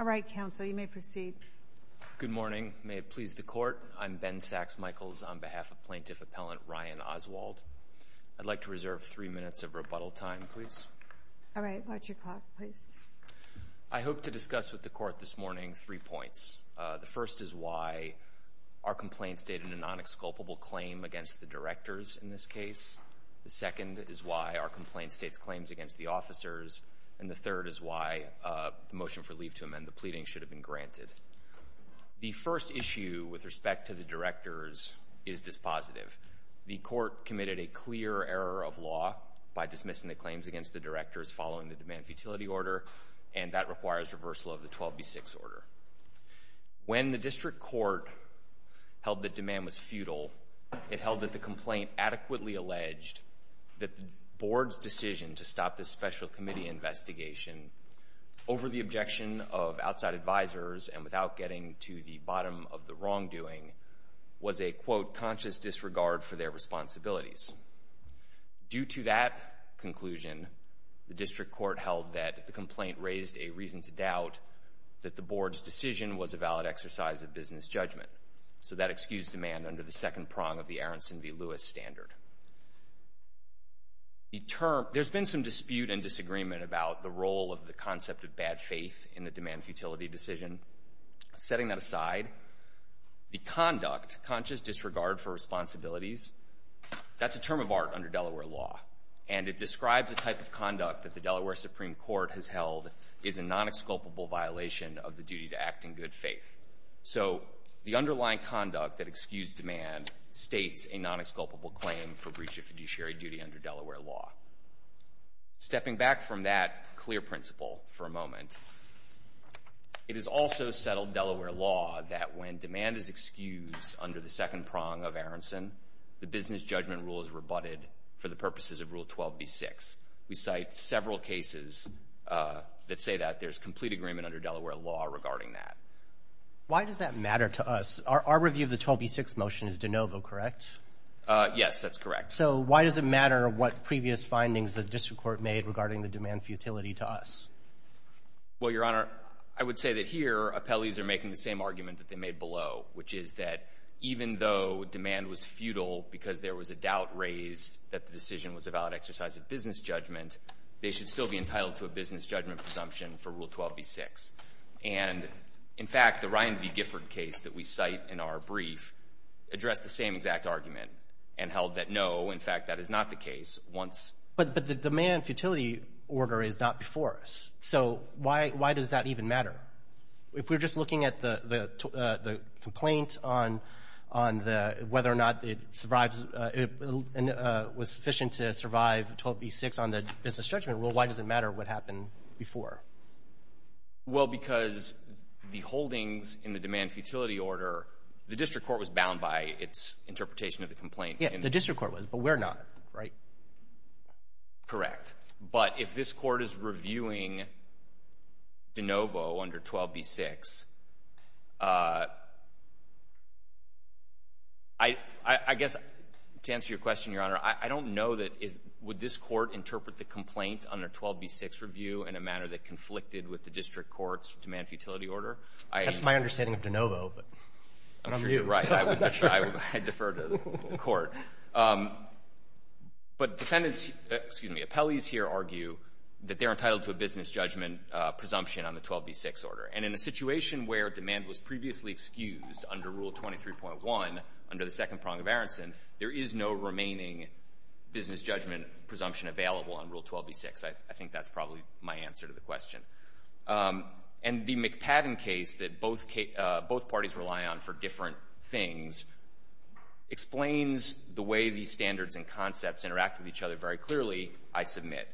All right, counsel, you may proceed. Good morning. May it please the court, I'm Ben Sachs-Michaels on behalf of Plaintiff Appellant Ryan Oswald. I'd like to reserve three minutes of rebuttal time, please. All right, watch your clock, please. I hope to discuss with the court this morning three points. The first is why our complaint stated a non-exculpable claim against the directors in this case. The second is why our complaint states claims against the officers. And the third is why the motion for leave to amend the pleading should have been granted. The first issue with respect to the directors is dispositive. The court committed a clear error of law by dismissing the claims against the directors following the demand futility order, and that requires reversal of the 12B6 order. When the district court held that demand was futile, it held that the complaint adequately alleged that the board's decision to stop this special committee investigation over the objection of outside advisors and without getting to the bottom of the wrongdoing was a, quote, conscious disregard for their responsibilities. Due to that conclusion, the district court held that the complaint raised a reason to doubt that the board's decision was a valid exercise of business judgment. So that excused demand under the second prong of the Aronson v. Lewis standard. There's been some dispute and disagreement about the role of the concept of bad faith in the demand futility decision. Setting that aside, the conduct, conscious disregard for responsibilities, that's a term of art under Delaware law, and it describes the type of conduct that the Delaware Supreme Court has held is a non-exculpable violation of the duty to act in good faith. So the underlying conduct that excused demand states a non-exculpable claim for breach of fiduciary duty under Delaware law. Stepping back from that clear principle for a moment, it is also settled Delaware law that when demand is excused under the second prong of Aronson, the business judgment rule is rebutted for the purposes of Rule 12b-6. We cite several cases that say that there's complete agreement under Delaware law regarding that. Why does that matter to us? Our review of the 12b-6 motion is de novo, correct? Yes, that's correct. So why does it matter what previous findings the district court made regarding the demand futility to us? Well, Your Honor, I would say that here appellees are making the same argument that they made below, which is that even though demand was futile because there was a doubt raised that the decision was a valid exercise of business judgment, they should still be entitled to a business judgment presumption for Rule 12b-6. And, in fact, the Ryan v. Gifford case that we cite in our brief addressed the same exact argument and held that, no, in fact, that is not the case. Once — But the demand futility order is not before us. So why does that even matter? If we're just looking at the complaint on the — whether or not it survives — was sufficient to survive 12b-6 on the business judgment rule, why does it matter what happened before? Well, because the holdings in the demand futility order, the district court was bound by its interpretation of the complaint. Yes. The district court was, but we're not, right? Correct. But if this Court is reviewing de novo under 12b-6, I guess to answer your question, Your Honor, I don't know that — would this Court interpret the complaint under 12b-6 review in a manner that conflicted with the district court's demand futility order? That's my understanding of de novo, but I'm new. Right. I defer to the Court. But defendants — excuse me, appellees here argue that they're entitled to a business judgment presumption on the 12b-6 order. And in a situation where demand was previously excused under Rule 23.1, under the second prong of Aronson, there is no remaining business judgment presumption available on Rule 12b-6. I think that's probably my answer to the question. And the McPadden case that both parties rely on for different things explains the way these standards and concepts interact with each other very clearly, I submit.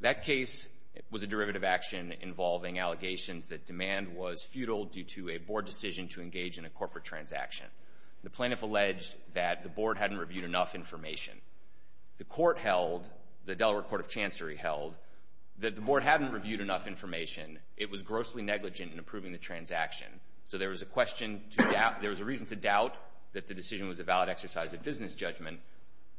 That case was a derivative action involving allegations that demand was futile due to a board decision to engage in a corporate transaction. The plaintiff alleged that the board hadn't reviewed enough information. The court held, the Delaware Court of Chancery held, that the board hadn't reviewed enough information. It was grossly negligent in approving the transaction. So there was a question to doubt — there was a reason to doubt that the decision was a valid exercise of business judgment.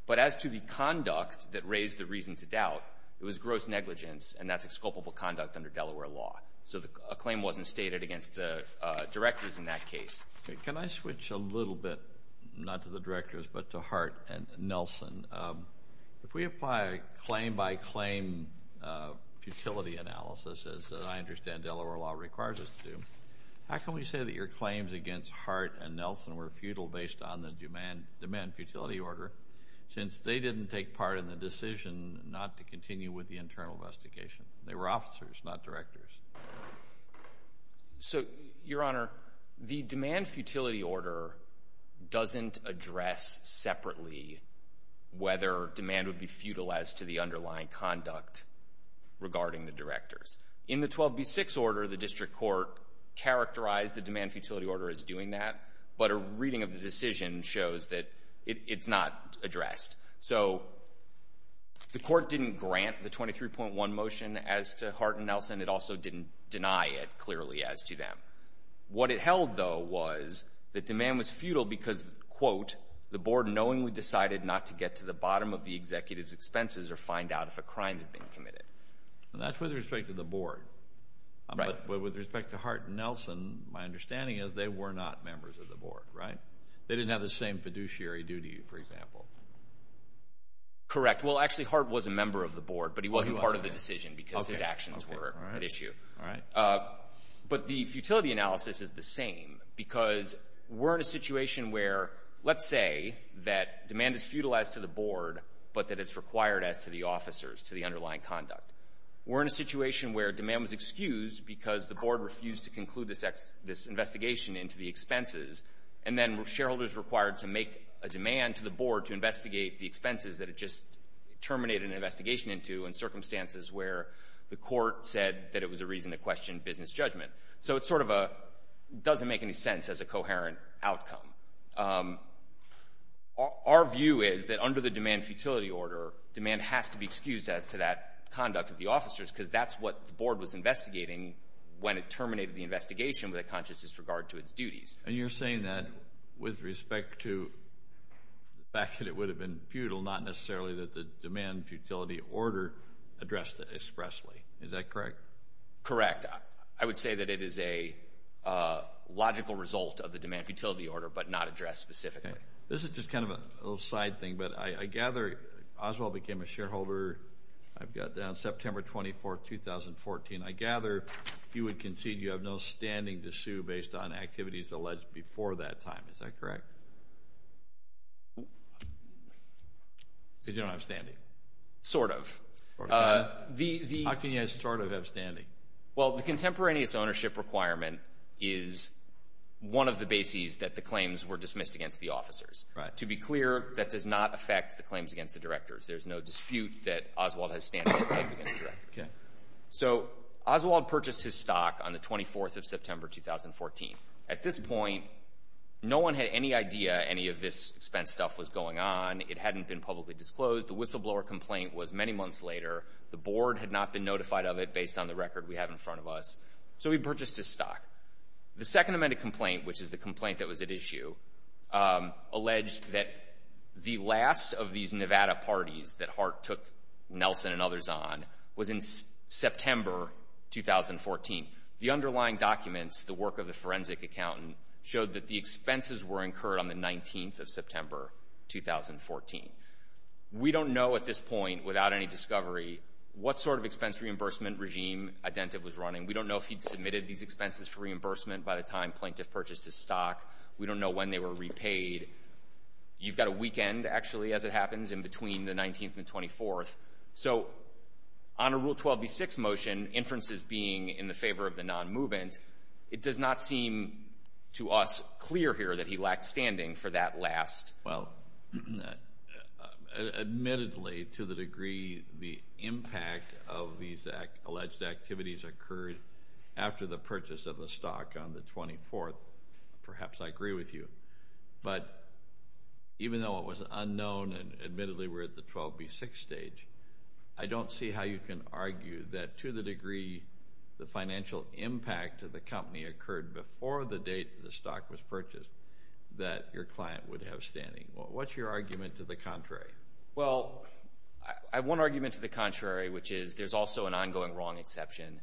But as to the conduct that raised the reason to doubt, it was gross negligence, and that's exculpable conduct under Delaware law. So a claim wasn't stated against the directors in that case. Can I switch a little bit, not to the directors, but to Hart and Nelson? If we apply a claim-by-claim futility analysis, as I understand Delaware law requires us to, how can we say that your claims against Hart and Nelson were futile based on the demand-futility order, since they didn't take part in the decision not to continue with the internal investigation? They were officers, not directors. So, Your Honor, the demand-futility order doesn't address separately whether demand would be futile as to the underlying conduct regarding the directors. In the 12b6 order, the district court characterized the demand-futility order as doing that, but a reading of the decision shows that it's not addressed. So the court didn't grant the 23.1 motion as to Hart and Nelson. It also didn't deny it clearly as to them. What it held, though, was that the board knowingly decided not to get to the bottom of the executive's expenses or find out if a crime had been committed. And that's with respect to the board, but with respect to Hart and Nelson, my understanding is they were not members of the board, right? They didn't have the same fiduciary duty, for example. Correct. Well, actually, Hart was a member of the board, but he wasn't part of the decision because his actions were at issue. But the futility analysis is the same because we're in a situation where, let's say, that demand is futilized to the board, but that it's required as to the officers, to the underlying conduct. We're in a situation where demand was excused because the board refused to conclude this investigation into the expenses, and then shareholders were required to make a demand to the board to investigate the expenses that it just terminated an investigation into in circumstances where the court said that it was a reason to question business judgment. So it's sort of doesn't make any sense as a coherent outcome. Our view is that under the demand-futility order, demand has to be excused as to that conduct of the officers because that's what the board was investigating when it terminated the investigation with a conscious disregard to its duties. And you're saying that with respect to the fact that it would have been futile, not necessarily that the demand-futility order addressed it expressly. Is that correct? Correct. I would say that it is a logical result of the demand-futility order, but not addressed specifically. This is just kind of a little side thing, but I gather Oswald became a shareholder, I've got down, September 24th, 2014. I gather you would concede you have no standing to sue based on activities alleged before that time. Is that correct? You don't have standing. Sort of. How can you sort of have standing? Well, the contemporaneous ownership requirement is one of the bases that the claims were dismissed against the officers. To be clear, that does not affect the claims against the directors. There's no dispute that Oswald has standing. So Oswald purchased his stock on the 24th of September, 2014. At this point, no one had any idea any of this expense stuff was going on. It hadn't been publicly disclosed. The whistleblower complaint was many months later. The board had not been notified of it based on the record we have in front of us. So he purchased his stock. The second amended complaint, which is the complaint that was at issue, alleged that the last of these Nevada parties that Hart took Nelson and others on was in September, 2014. The underlying documents, the work of the forensic accountant, showed that the expenses were incurred on the 19th of September, 2014. We don't know at this point, without any discovery, what sort of expense reimbursement regime Identiv was running. We don't know if he'd submitted these expenses for reimbursement by the time plaintiff purchased his stock. We don't know when they were repaid. You've got a weekend, actually, as it happens, in between the 19th and 24th. So on a Rule 12b-6 motion, inferences being in the favor of the non-movement, it does not seem to us clear here that he lacked standing for that last. Well, admittedly, to the degree the impact of these alleged activities occurred after the purchase of the stock on the 24th, perhaps I agree with you. But even though it was unknown, and admittedly we're at the 12b-6 stage, I don't see how you can argue that to the degree the financial impact of the company occurred before the date the stock was purchased, that your client would have standing. What's your argument to the contrary? Well, I have one argument to the contrary, which is there's also an ongoing wrong exception.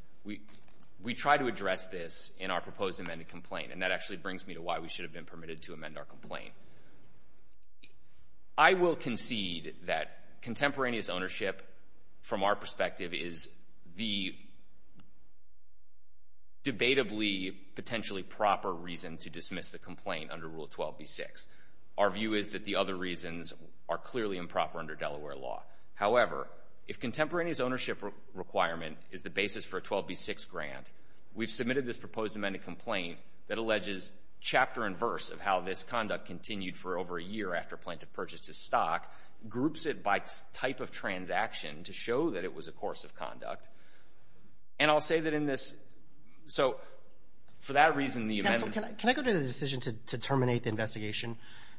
We try to address this in our proposed amended complaint, and that actually brings me to why we should have been permitted to amend our complaint. I will concede that contemporaneous ownership, from our perspective, is the debatably, potentially proper reason to dismiss the Our view is that the other reasons are clearly improper under Delaware law. However, if contemporaneous ownership requirement is the basis for a 12b-6 grant, we've submitted this proposed amended complaint that alleges chapter and verse of how this conduct continued for over a year after plaintiff purchased his stock, groups it by type of transaction to show that it was a course of conduct. And I'll say that in this, so for that reason, the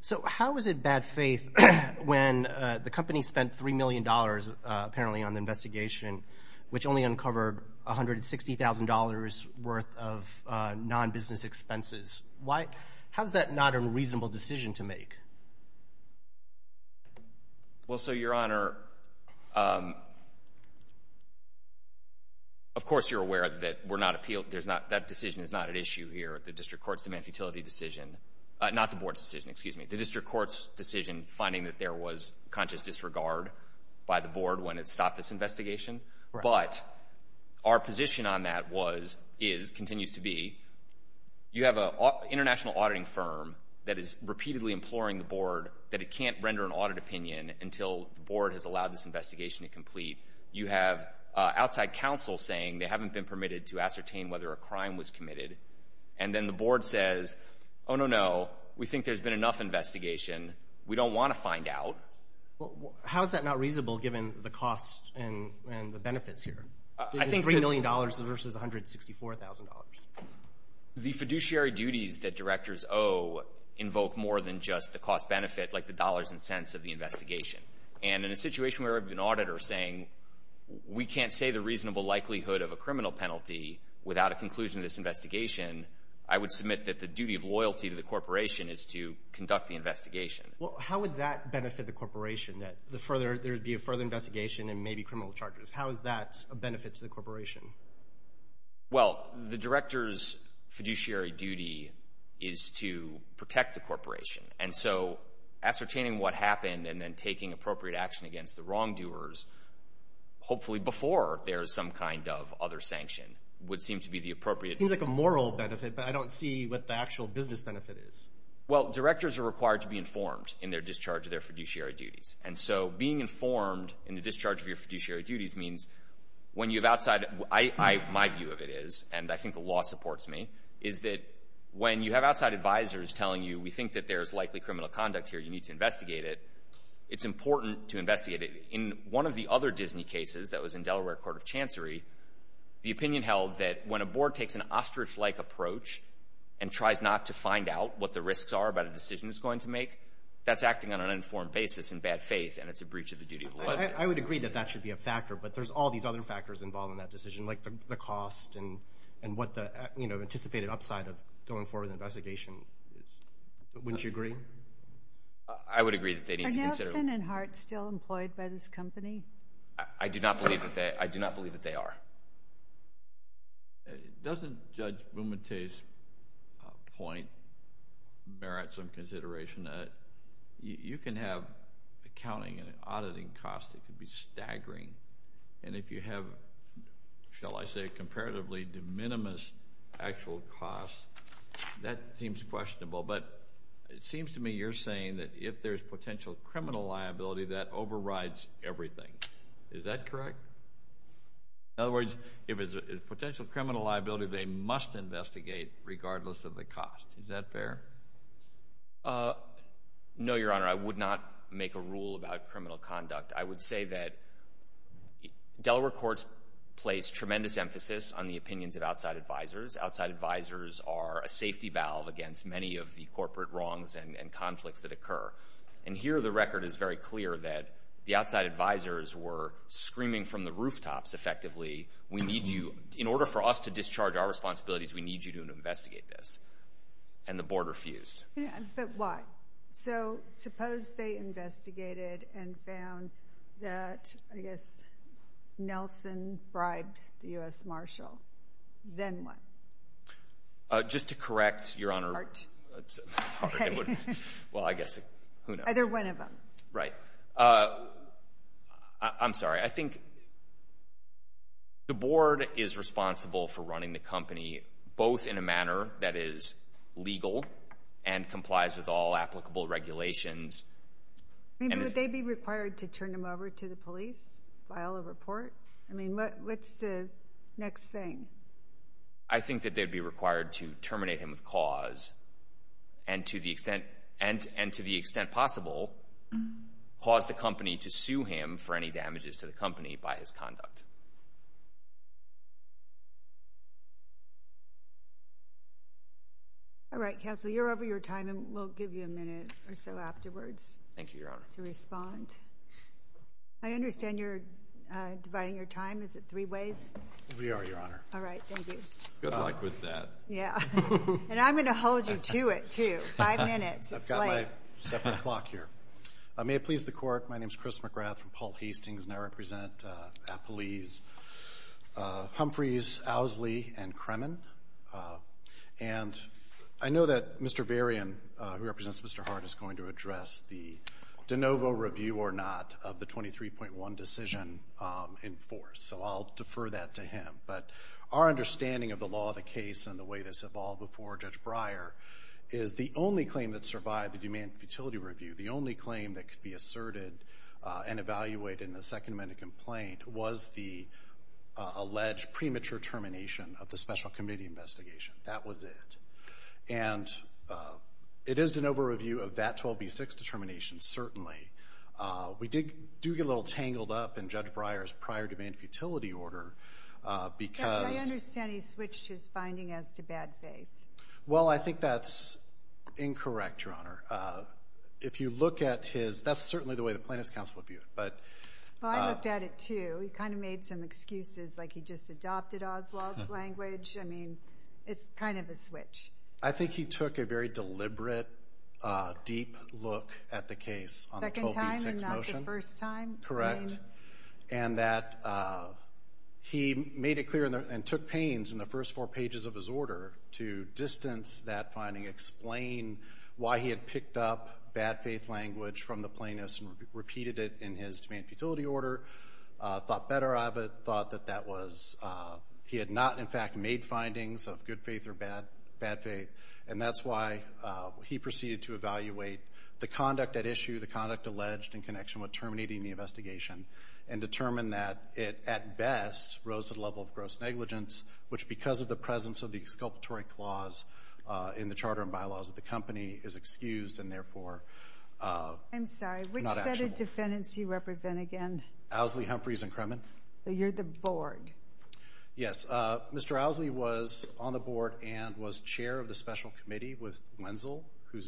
So how is it bad faith when the company spent $3 million, apparently, on the investigation, which only uncovered $160,000 worth of non-business expenses? Why? How is that not a reasonable decision to make? Well, so, Your Honor, of course, you're aware that we're not appealed. There's not, that decision is not at issue here at the District Court's human futility decision, not the Board's decision, excuse me, the District Court's decision finding that there was conscious disregard by the Board when it stopped this investigation. But our position on that was, is, continues to be, you have an international auditing firm that is repeatedly imploring the Board that it can't render an audit opinion until the Board has allowed this investigation to complete. You have outside counsel saying they haven't been Oh, no, no. We think there's been enough investigation. We don't want to find out. Well, how is that not reasonable given the cost and the benefits here? I think $3 million versus $164,000. The fiduciary duties that directors owe invoke more than just the cost benefit, like the dollars and cents of the investigation. And in a situation where an auditor is saying, we can't say the reasonable likelihood of a criminal duty of loyalty to the corporation is to conduct the investigation. Well, how would that benefit the corporation, that there would be a further investigation and maybe criminal charges? How is that a benefit to the corporation? Well, the director's fiduciary duty is to protect the corporation. And so, ascertaining what happened and then taking appropriate action against the wrongdoers, hopefully before there is some kind of other sanction, would seem to be the appropriate... It seems like a moral benefit, but I don't see what the actual business benefit is. Well, directors are required to be informed in their discharge of their fiduciary duties. And so, being informed in the discharge of your fiduciary duties means when you have outside... My view of it is, and I think the law supports me, is that when you have outside advisors telling you, we think that there's likely criminal conduct here, you need to investigate it. It's important to investigate it. In one of the other Disney cases that was in Delaware Court of I would agree that that should be a factor, but there's all these other factors involved in that decision, like the cost and what the, you know, anticipated upside of going forward with an investigation. Wouldn't you agree? I would agree that they need to consider... Are Nelson and Hart still employed by this company? I do not believe that they are. Doesn't Judge Bumate's point merit some consideration that you can have accounting and auditing costs that could be staggering, and if you have, shall I say, comparatively de minimis actual costs, that seems questionable. But it seems to me you're saying that if there's potential criminal liability, that overrides everything. Is that correct? In other words, if there's potential criminal liability, they must investigate regardless of the cost. Is that fair? No, Your Honor. I would not make a rule about criminal conduct. I would say that Delaware Courts place tremendous emphasis on the opinions of outside advisors. Outside advisors are a safety valve against many of the corporate wrongs and conflicts that occur. And here the record is very clear that the outside advisors were screaming from the rooftops, effectively, in order for us to discharge our responsibilities, we need you to investigate this. And the Board refused. But why? So suppose they investigated and found that, I guess, Nelson bribed the U.S. Marshal. Then what? Just to correct, Your Honor. Hard. Well, I guess, who knows. Either one of them. Right. I'm sorry. I think the Board is responsible for running the company, both in a manner that is legal and complies with all applicable regulations. Would they be required to turn him over to the police, file a report? I mean, what's the next thing? I think that they'd be required to terminate him with cause and, to the extent possible, cause the company to sue him for any damages to the company by his conduct. All right. Counsel, you're over your time and we'll give you a minute or so afterwards. Thank you, Your Honor. To respond. I understand you're dividing your time. Is it three ways? We are, Your Honor. All right. Thank you. Good luck with that. Yeah. And I'm going to hold you to it, too. Five minutes. It's late. I've got my separate clock here. May it please the Court, my name is Chris McGrath from Paul Hastings, and I represent Appalese, Humphreys, Owsley, and Kremen. And I know that Mr. Varian, who represents Mr. Hard, is going to address the de novo review or not of the 23.1 decision in force. So I'll defer that to him. But our understanding of the law of the case and the way this evolved before Judge Breyer is the only claim that survived the demand futility review, the only claim that could be asserted and evaluated in the Second Amendment complaint, was the alleged premature termination of the special committee investigation. That was it. And it is de novo review of that 12B6 determination, certainly. We do get a little tangled up in Judge Breyer's prior demand futility order because... I understand he switched his finding as to bad faith. Well, I think that's incorrect, Your Honor. If you look at his... That's certainly the way the plaintiff's counsel would view it. Well, I looked at it, too. He kind of made some excuses, like he just adopted Oswald's language. I mean, it's kind of a switch. I think he took a very deliberate, deep look at the case on the 12B6 motion. Second time and not the first time? Correct. And that he made it clear and took pains in the first four pages of his order to distance that finding, explain why he had picked up bad faith language from the plaintiff's and repeated it in his demand futility order, thought better of it, thought that that was... He had not, in fact, made findings of good faith or bad faith. And that's why he proceeded to evaluate the conduct at issue, the conduct alleged in connection with terminating the investigation, and determined that it, at best, rose to the level of gross negligence, which, because of the presence of the exculpatory clause in the charter and bylaws of the company, is excused and, therefore, not actionable. I'm sorry. Which set of defendants do you represent again? Owsley, Humphreys, and Kremen. You're the board. Yes. Mr. Owsley was on the board and was chair of the special committee with Wenzel, who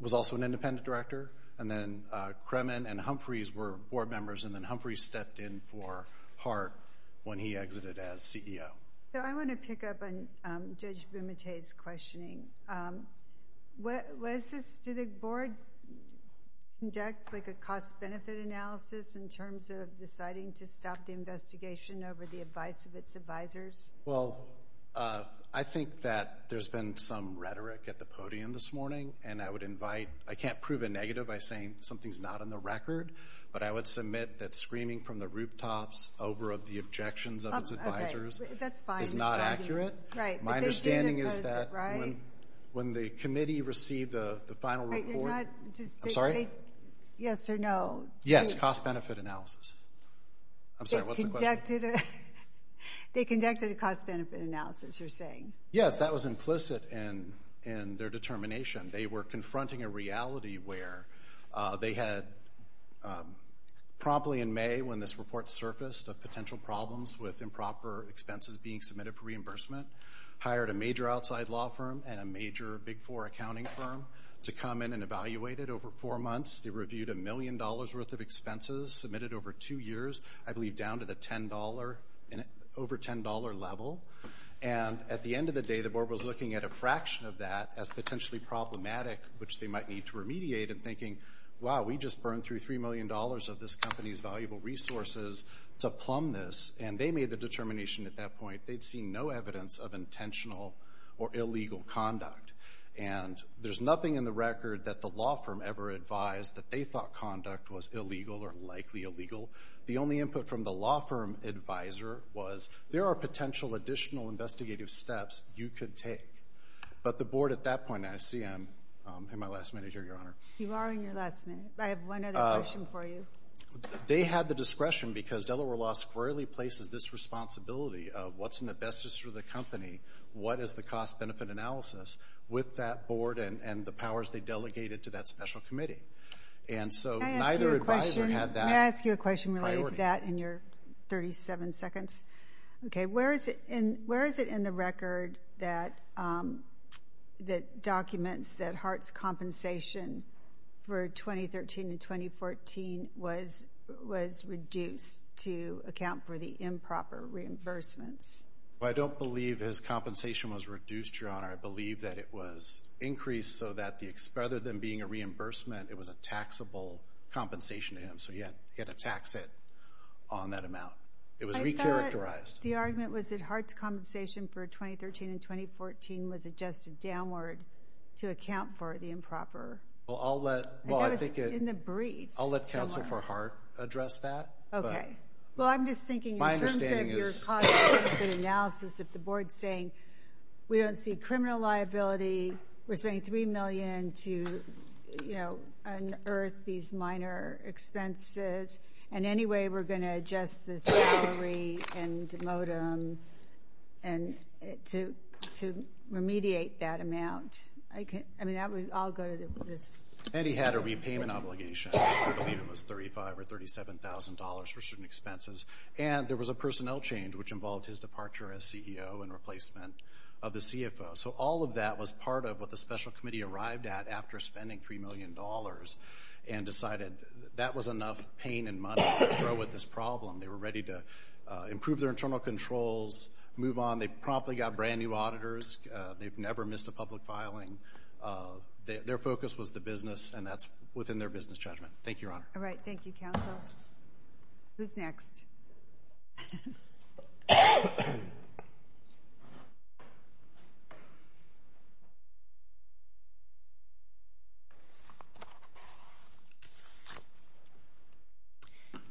was also an independent director. And then Kremen and Humphreys were board members, and then Humphreys stepped in for Hart when he exited as CEO. So I want to pick up on Judge Bumate's questioning. What is this? Did the board conduct, like, a cost-benefit analysis in terms of deciding to stop the investigation over the advice of its advisors? Well, I think that there's been some rhetoric at the podium this morning, and I would invite... by saying something's not on the record, but I would submit that screaming from the rooftops over the objections of its advisors is not accurate. My understanding is that when the committee received the final report... I'm sorry? Yes or no. Yes, cost-benefit analysis. I'm sorry, what's the question? They conducted a cost-benefit analysis, you're saying. Yes, that was implicit in their determination. They were confronting a reality where they had promptly in May, when this report surfaced, of potential problems with improper expenses being submitted for reimbursement, hired a major outside law firm and a major Big Four accounting firm to come in and evaluate it over four months. They reviewed a million dollars' worth of expenses submitted over two years, I believe down to the $10, over $10 level. And at the end of the day, the board was looking at a fraction of that as potentially problematic, which they might need to remediate, and thinking, wow, we just burned through $3 million of this company's valuable resources to plumb this. And they made the determination at that point they'd seen no evidence of intentional or illegal conduct. And there's nothing in the record that the law firm ever advised that they thought conduct was illegal or likely illegal. The only input from the law firm advisor was, there are potential additional investigative steps you could take. But the board at that point, and I see I'm in my last minute here, Your Honor. You are in your last minute. I have one other question for you. They had the discretion, because Delaware Law squarely places this responsibility of what's in the best interest of the company, what is the cost-benefit analysis, with that board and the powers they delegated to that special committee. And so neither advisor had that. May I ask you a question related to that in your 37 seconds? Okay. Where is it in the record that documents that Hart's compensation for 2013 and 2014 was reduced to account for the improper reimbursements? I don't believe his compensation was reduced, Your Honor. I believe that it was increased so that rather than being a reimbursement, it was a taxable compensation to him. So he had to tax it on that amount. It was re-characterized. I thought the argument was that Hart's compensation for 2013 and 2014 was adjusted downward to account for the improper. I thought it was in the brief. I'll let counsel for Hart address that. Okay. Well, I'm just thinking in terms of your cost-benefit analysis, if the board's saying we don't see criminal liability, we're spending $3 million to, you know, unearth these minor expenses, and anyway we're going to adjust this salary and modem to remediate that amount. I mean, that would all go to this. And he had a repayment obligation. I believe it was $35,000 or $37,000 for certain expenses. And there was a personnel change, which involved his departure as CEO and replacement of the CFO. So all of that was part of what the special committee arrived at after spending $3 million and decided that was enough pain and money to throw at this problem. They were ready to improve their internal controls, move on. They promptly got brand-new auditors. They've never missed a public filing. Their focus was the business, and that's within their business judgment. Thank you, Your Honor. All right. Thank you, counsel. Who's next?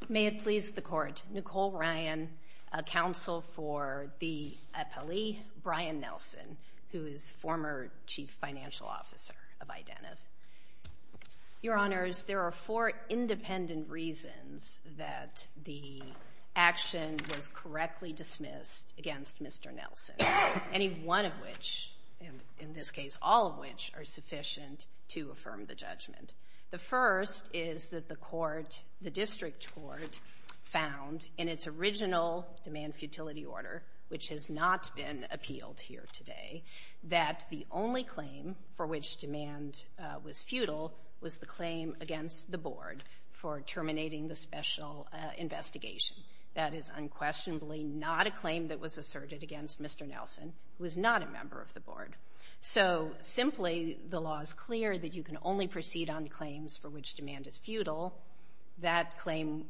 May it please the Court. Nicole Ryan, counsel for the appellee. Brian Nelson, who is former chief financial officer of Identiv. Your Honors, there are four independent reasons that the action was correctly dismissed against Mr. Nelson, any one of which, and in this case all of which, are sufficient to affirm the judgment. The first is that the court, the district court, found in its original demand futility order, which has not been appealed here today, that the only claim for which demand was futile was the claim against the board for terminating the special investigation. That is unquestionably not a claim that was asserted against Mr. Nelson, who is not a member of the board. So simply, the law is clear that you can only proceed on claims for which demand is futile. That claim,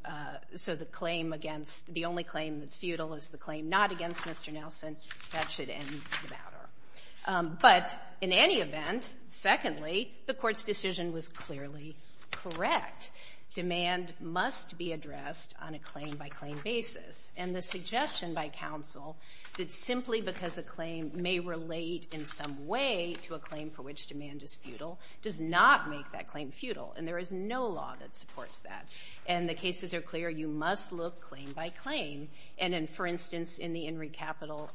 so the claim against, the only claim that's futile is the claim not against Mr. Nelson. That should end the matter. But in any event, secondly, the court's decision was clearly correct. Demand must be addressed on a claim-by-claim basis. And the suggestion by counsel that simply because a claim may relate in some way to a claim for which demand is futile does not make that claim futile, and there is no law that supports that. And the cases are clear. You must look claim-by-claim. And in, for instance, in the Henry Capital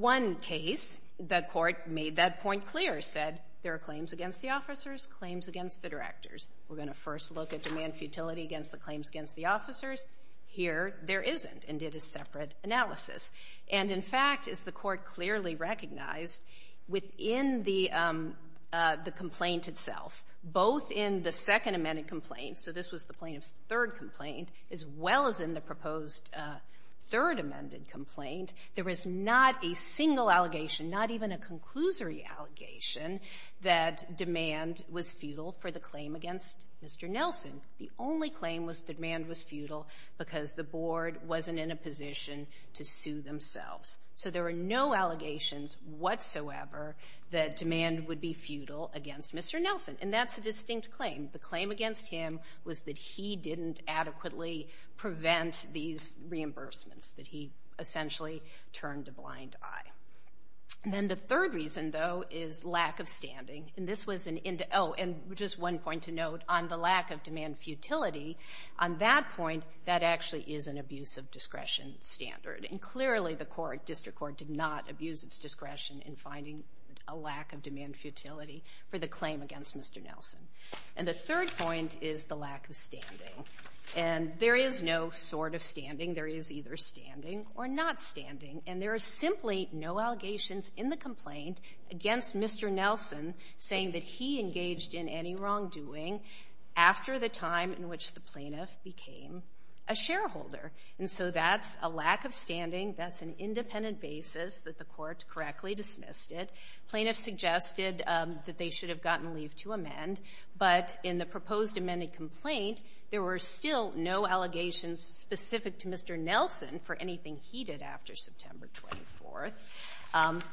I case, the court made that point clear, said there are claims against the officers, claims against the directors. We're going to first look at demand futility against the claims against the officers. Here, there isn't, and did a separate analysis. And, in fact, as the court clearly recognized, within the complaint itself, both in the Second Amendment complaint, so this was the plaintiff's third complaint, as well as in the proposed Third Amendment complaint, there was not a single allegation, not even a conclusory allegation, that demand was futile for the claim against Mr. Nelson. The only claim was that demand was futile because the board wasn't in a position to sue themselves. So there were no allegations whatsoever that demand would be futile against Mr. Nelson. And that's a distinct claim. The claim against him was that he didn't adequately prevent these reimbursements, that he essentially turned a blind eye. And then the third reason, though, is lack of standing. And this was an indi oh, and just one point to note, on the lack of demand futility, on that point, that actually is an abuse of discretion standard. And clearly the court, district court, did not abuse its discretion in finding a lack of demand futility for the claim against Mr. Nelson. And the third point is the lack of standing. And there is no sort of standing. There is either standing or not standing. And there is simply no allegations in the complaint against Mr. Nelson saying that he engaged in any wrongdoing after the time in which the plaintiff became a shareholder. And so that's a lack of standing. That's an independent basis that the court correctly dismissed it. Plaintiffs suggested that they should have gotten leave to amend. But in the proposed amended complaint, there were still no allegations specific to Mr. Nelson for anything he did after September 24th.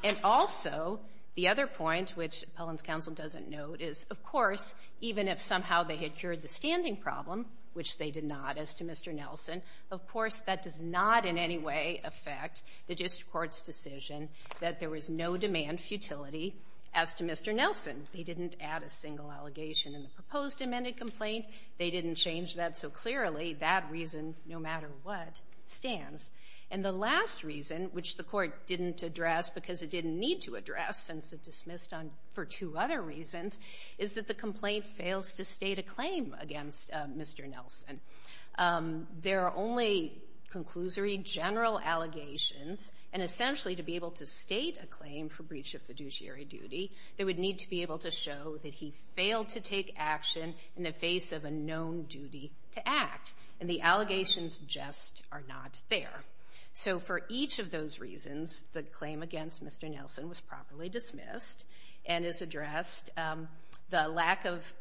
And also, the other point, which Pellin's counsel doesn't note, is, of course, even if somehow they had cured the standing problem, which they did not as to Mr. Nelson, of course, that does not in any way affect the district court's decision that there was no demand futility as to Mr. Nelson. They didn't add a single allegation in the proposed amended complaint. They didn't change that. And so clearly, that reason, no matter what, stands. And the last reason, which the court didn't address because it didn't need to address since it dismissed on for two other reasons, is that the complaint fails to state a claim against Mr. Nelson. There are only conclusory general allegations. And essentially, to be able to state a claim for breach of fiduciary duty, they would need to be able to show that he failed to take action in the face of a known duty to act. And the allegations just are not there. So for each of those reasons, the claim against Mr. Nelson was properly dismissed and is addressed. The lack of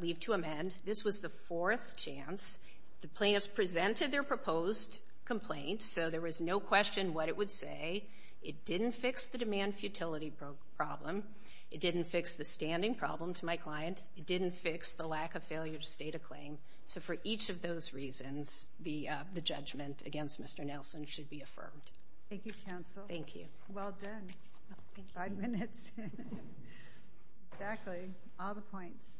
leave to amend, this was the fourth chance. The plaintiffs presented their proposed complaint, so there was no question what it would say. It didn't fix the demand futility problem. It didn't fix the standing problem to my client. It didn't fix the lack of failure to state a claim. So for each of those reasons, the judgment against Mr. Nelson should be affirmed. Thank you, counsel. Thank you. Well done. Five minutes. Exactly. All the points.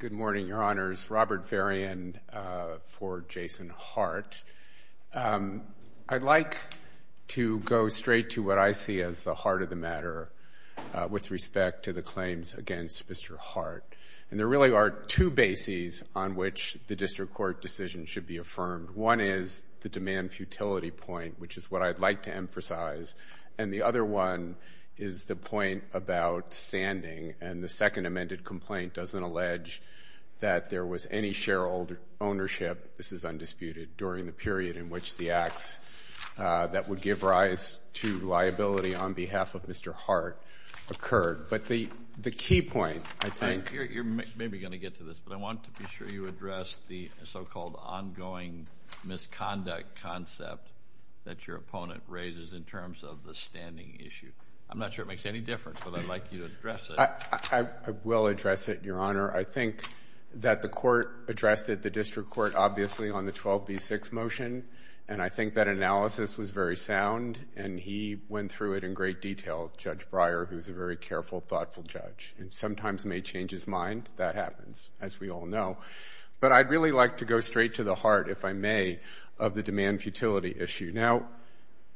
Good morning, Your Honors. Robert Varian for Jason Hart. I'd like to go straight to what I see as the heart of the matter with respect to the claims against Mr. Hart. And there really are two bases on which the district court decision should be affirmed. One is the demand futility point, which is what I'd like to emphasize. And the other one is the point about standing. And the second amended complaint doesn't allege that there was any shareholder ownership, this is undisputed, during the period in which the acts that would give rise to liability on behalf of Mr. Hart occurred. But the key point, I think. You're maybe going to get to this, but I want to be sure you address the so-called ongoing misconduct concept that your opponent raises in terms of the standing issue. I'm not sure it makes any difference, but I'd like you to address it. I will address it, Your Honor. I think that the court addressed it, the district court, obviously, on the 12b-6 motion. And I think that analysis was very sound. And he went through it in great detail, Judge Breyer, who's a very careful, thoughtful judge, and sometimes may change his mind. That happens, as we all know. But I'd really like to go straight to the heart, if I may, of the demand futility issue. Now,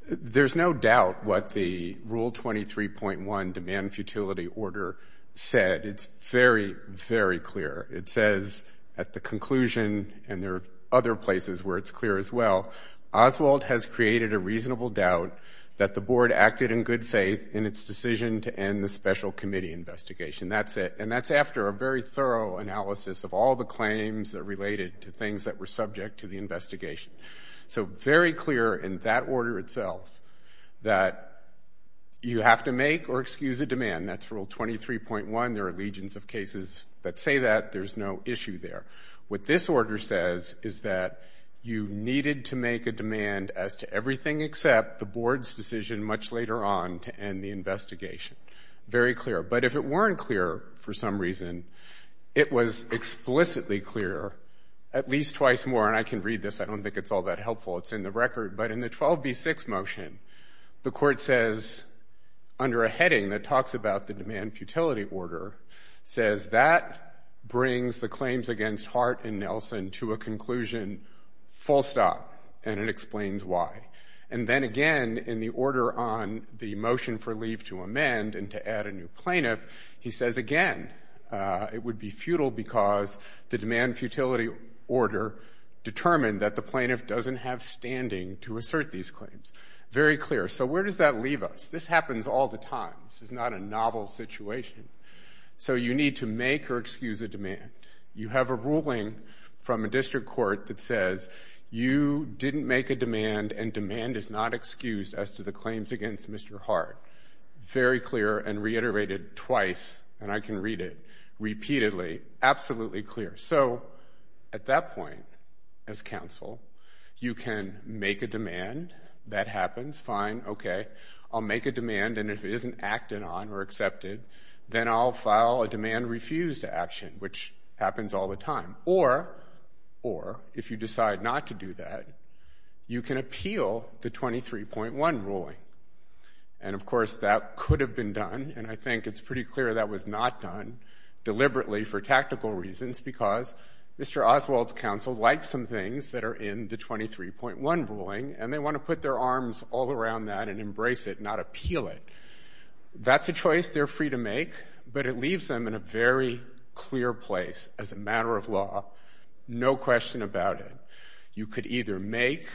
there's no doubt what the Rule 23.1 demand futility order said. It's very, very clear. It says at the conclusion, and there are other places where it's clear as well, Oswald has created a reasonable doubt that the Board acted in good faith in its decision to end the special committee investigation. That's it. And that's after a very thorough analysis of all the claims that related to things that were subject to the investigation. So very clear in that order itself that you have to make or excuse a demand. That's Rule 23.1. There are legions of cases that say that. There's no issue there. What this order says is that you needed to make a demand as to everything except the Board's decision much later on to end the investigation. Very clear. But if it weren't clear for some reason, it was explicitly clear, at least twice more, and I can read this. I don't think it's all that helpful. It's in the record. But in the 12b-6 motion, the Court says under a heading that talks about the demand futility order, says that brings the claims against Hart and Nelson to a conclusion full stop, and it explains why. And then again in the order on the motion for leave to amend and to add a new plaintiff, he says again it would be futile because the demand futility order determined that the plaintiff doesn't have standing to assert these claims. Very clear. So where does that leave us? This happens all the time. This is not a novel situation. So you need to make or excuse a demand. You have a ruling from a district court that says you didn't make a demand and demand is not excused as to the claims against Mr. Hart. Very clear and reiterated twice, and I can read it repeatedly, absolutely clear. So at that point as counsel, you can make a demand. That happens. Fine. Okay. I'll make a demand, and if it isn't acted on or accepted, then I'll file a demand refused action, which happens all the time. Or, if you decide not to do that, you can appeal the 23.1 ruling. And, of course, that could have been done, and I think it's pretty clear that was not done deliberately for tactical reasons because Mr. Oswald's counsel likes some things that are in the 23.1 ruling, and they want to put their arms all around that and embrace it, not appeal it. That's a choice they're free to make, but it leaves them in a very clear place as a matter of law, no question about it. You could either make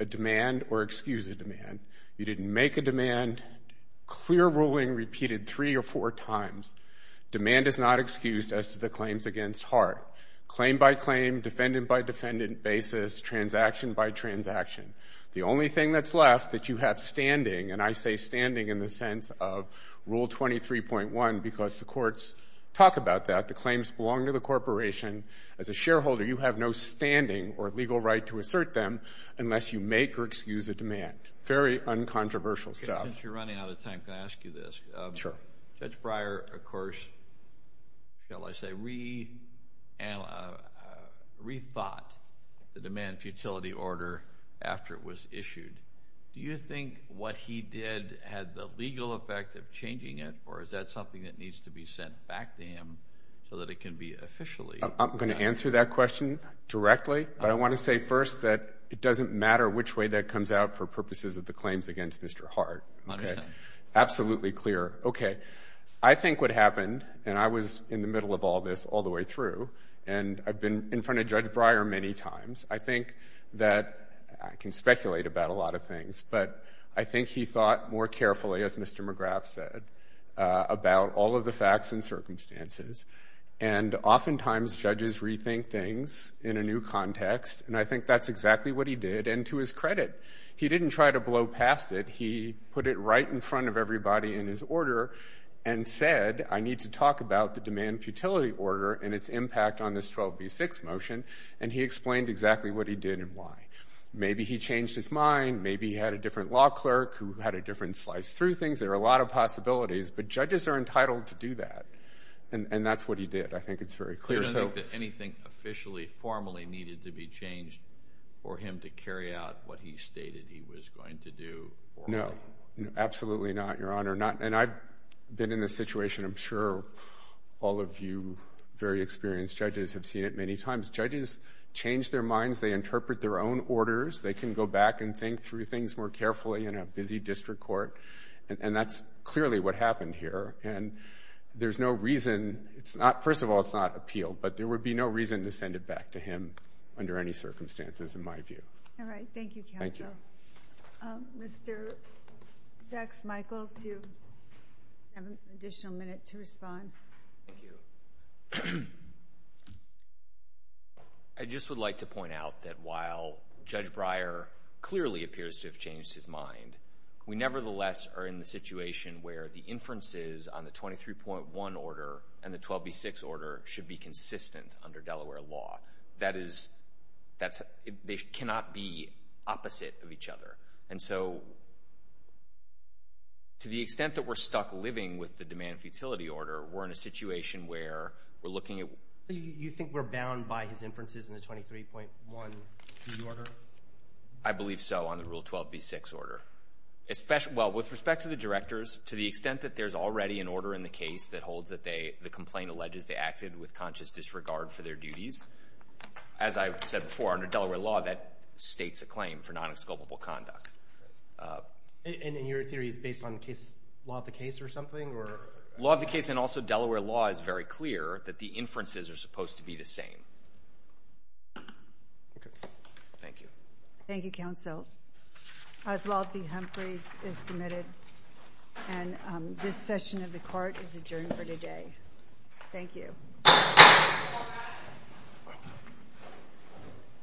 a demand or excuse a demand. You didn't make a demand, clear ruling repeated three or four times. Demand is not excused as to the claims against Hart. Claim by claim, defendant by defendant basis, transaction by transaction. The only thing that's left that you have standing, and I say standing in the sense of Rule 23.1 because the courts talk about that, the claims belong to the corporation. As a shareholder, you have no standing or legal right to assert them unless you make or excuse a demand, very uncontroversial stuff. Since you're running out of time, can I ask you this? Sure. Judge Breyer, of course, shall I say, rethought the demand futility order after it was issued. Do you think what he did had the legal effect of changing it, or is that something that needs to be sent back to him so that it can be officially? I'm going to answer that question directly, but I want to say first that it doesn't matter which way that comes out for purposes of the claims against Mr. Hart. Okay. Absolutely clear. Okay. I think what happened, and I was in the middle of all this all the way through, and I've been in front of Judge Breyer many times, I think that I can speculate about a lot of things, but I think he thought more carefully, as Mr. McGrath said, about all of the facts and circumstances. Oftentimes, judges rethink things in a new context, and I think that's exactly what he did, and to his credit, he didn't try to blow past it. He put it right in front of everybody in his order and said, I need to talk about the demand futility order and its impact on this 12B6 motion, and he explained exactly what he did and why. Maybe he changed his mind. Maybe he had a different law clerk who had a different slice through things. There are a lot of possibilities, but judges are entitled to do that, and that's what he did. I think it's very clear. You don't think that anything officially, formally needed to be changed for him to carry out what he stated he was going to do formally? No, absolutely not, Your Honor. And I've been in this situation. I'm sure all of you very experienced judges have seen it many times. Judges change their minds. They interpret their own orders. They can go back and think through things more carefully in a busy district court, and that's clearly what happened here. And there's no reason. First of all, it's not appealed, but there would be no reason to send it back to him under any circumstances, in my view. All right. Thank you, counsel. Thank you. Mr. Sachs-Michaels, you have an additional minute to respond. Thank you. I just would like to point out that while Judge Breyer clearly appears to have on the 23.1 order and the 12B6 order should be consistent under Delaware law. That is, they cannot be opposite of each other. And so to the extent that we're stuck living with the demand futility order, we're in a situation where we're looking at. You think we're bound by his inferences in the 23.1B order? I believe so on the Rule 12B6 order. Well, with respect to the directors, to the extent that there's already an order in the case that holds that the complaint alleges they acted with conscious disregard for their duties, as I said before, under Delaware law that states a claim for non-exculpable conduct. And your theory is based on law of the case or something? Law of the case and also Delaware law is very clear that the inferences are supposed to be the same. Okay. Thank you. Thank you, counsel. Oswald v. Humphreys is submitted. And this session of the court is adjourned for today. Thank you.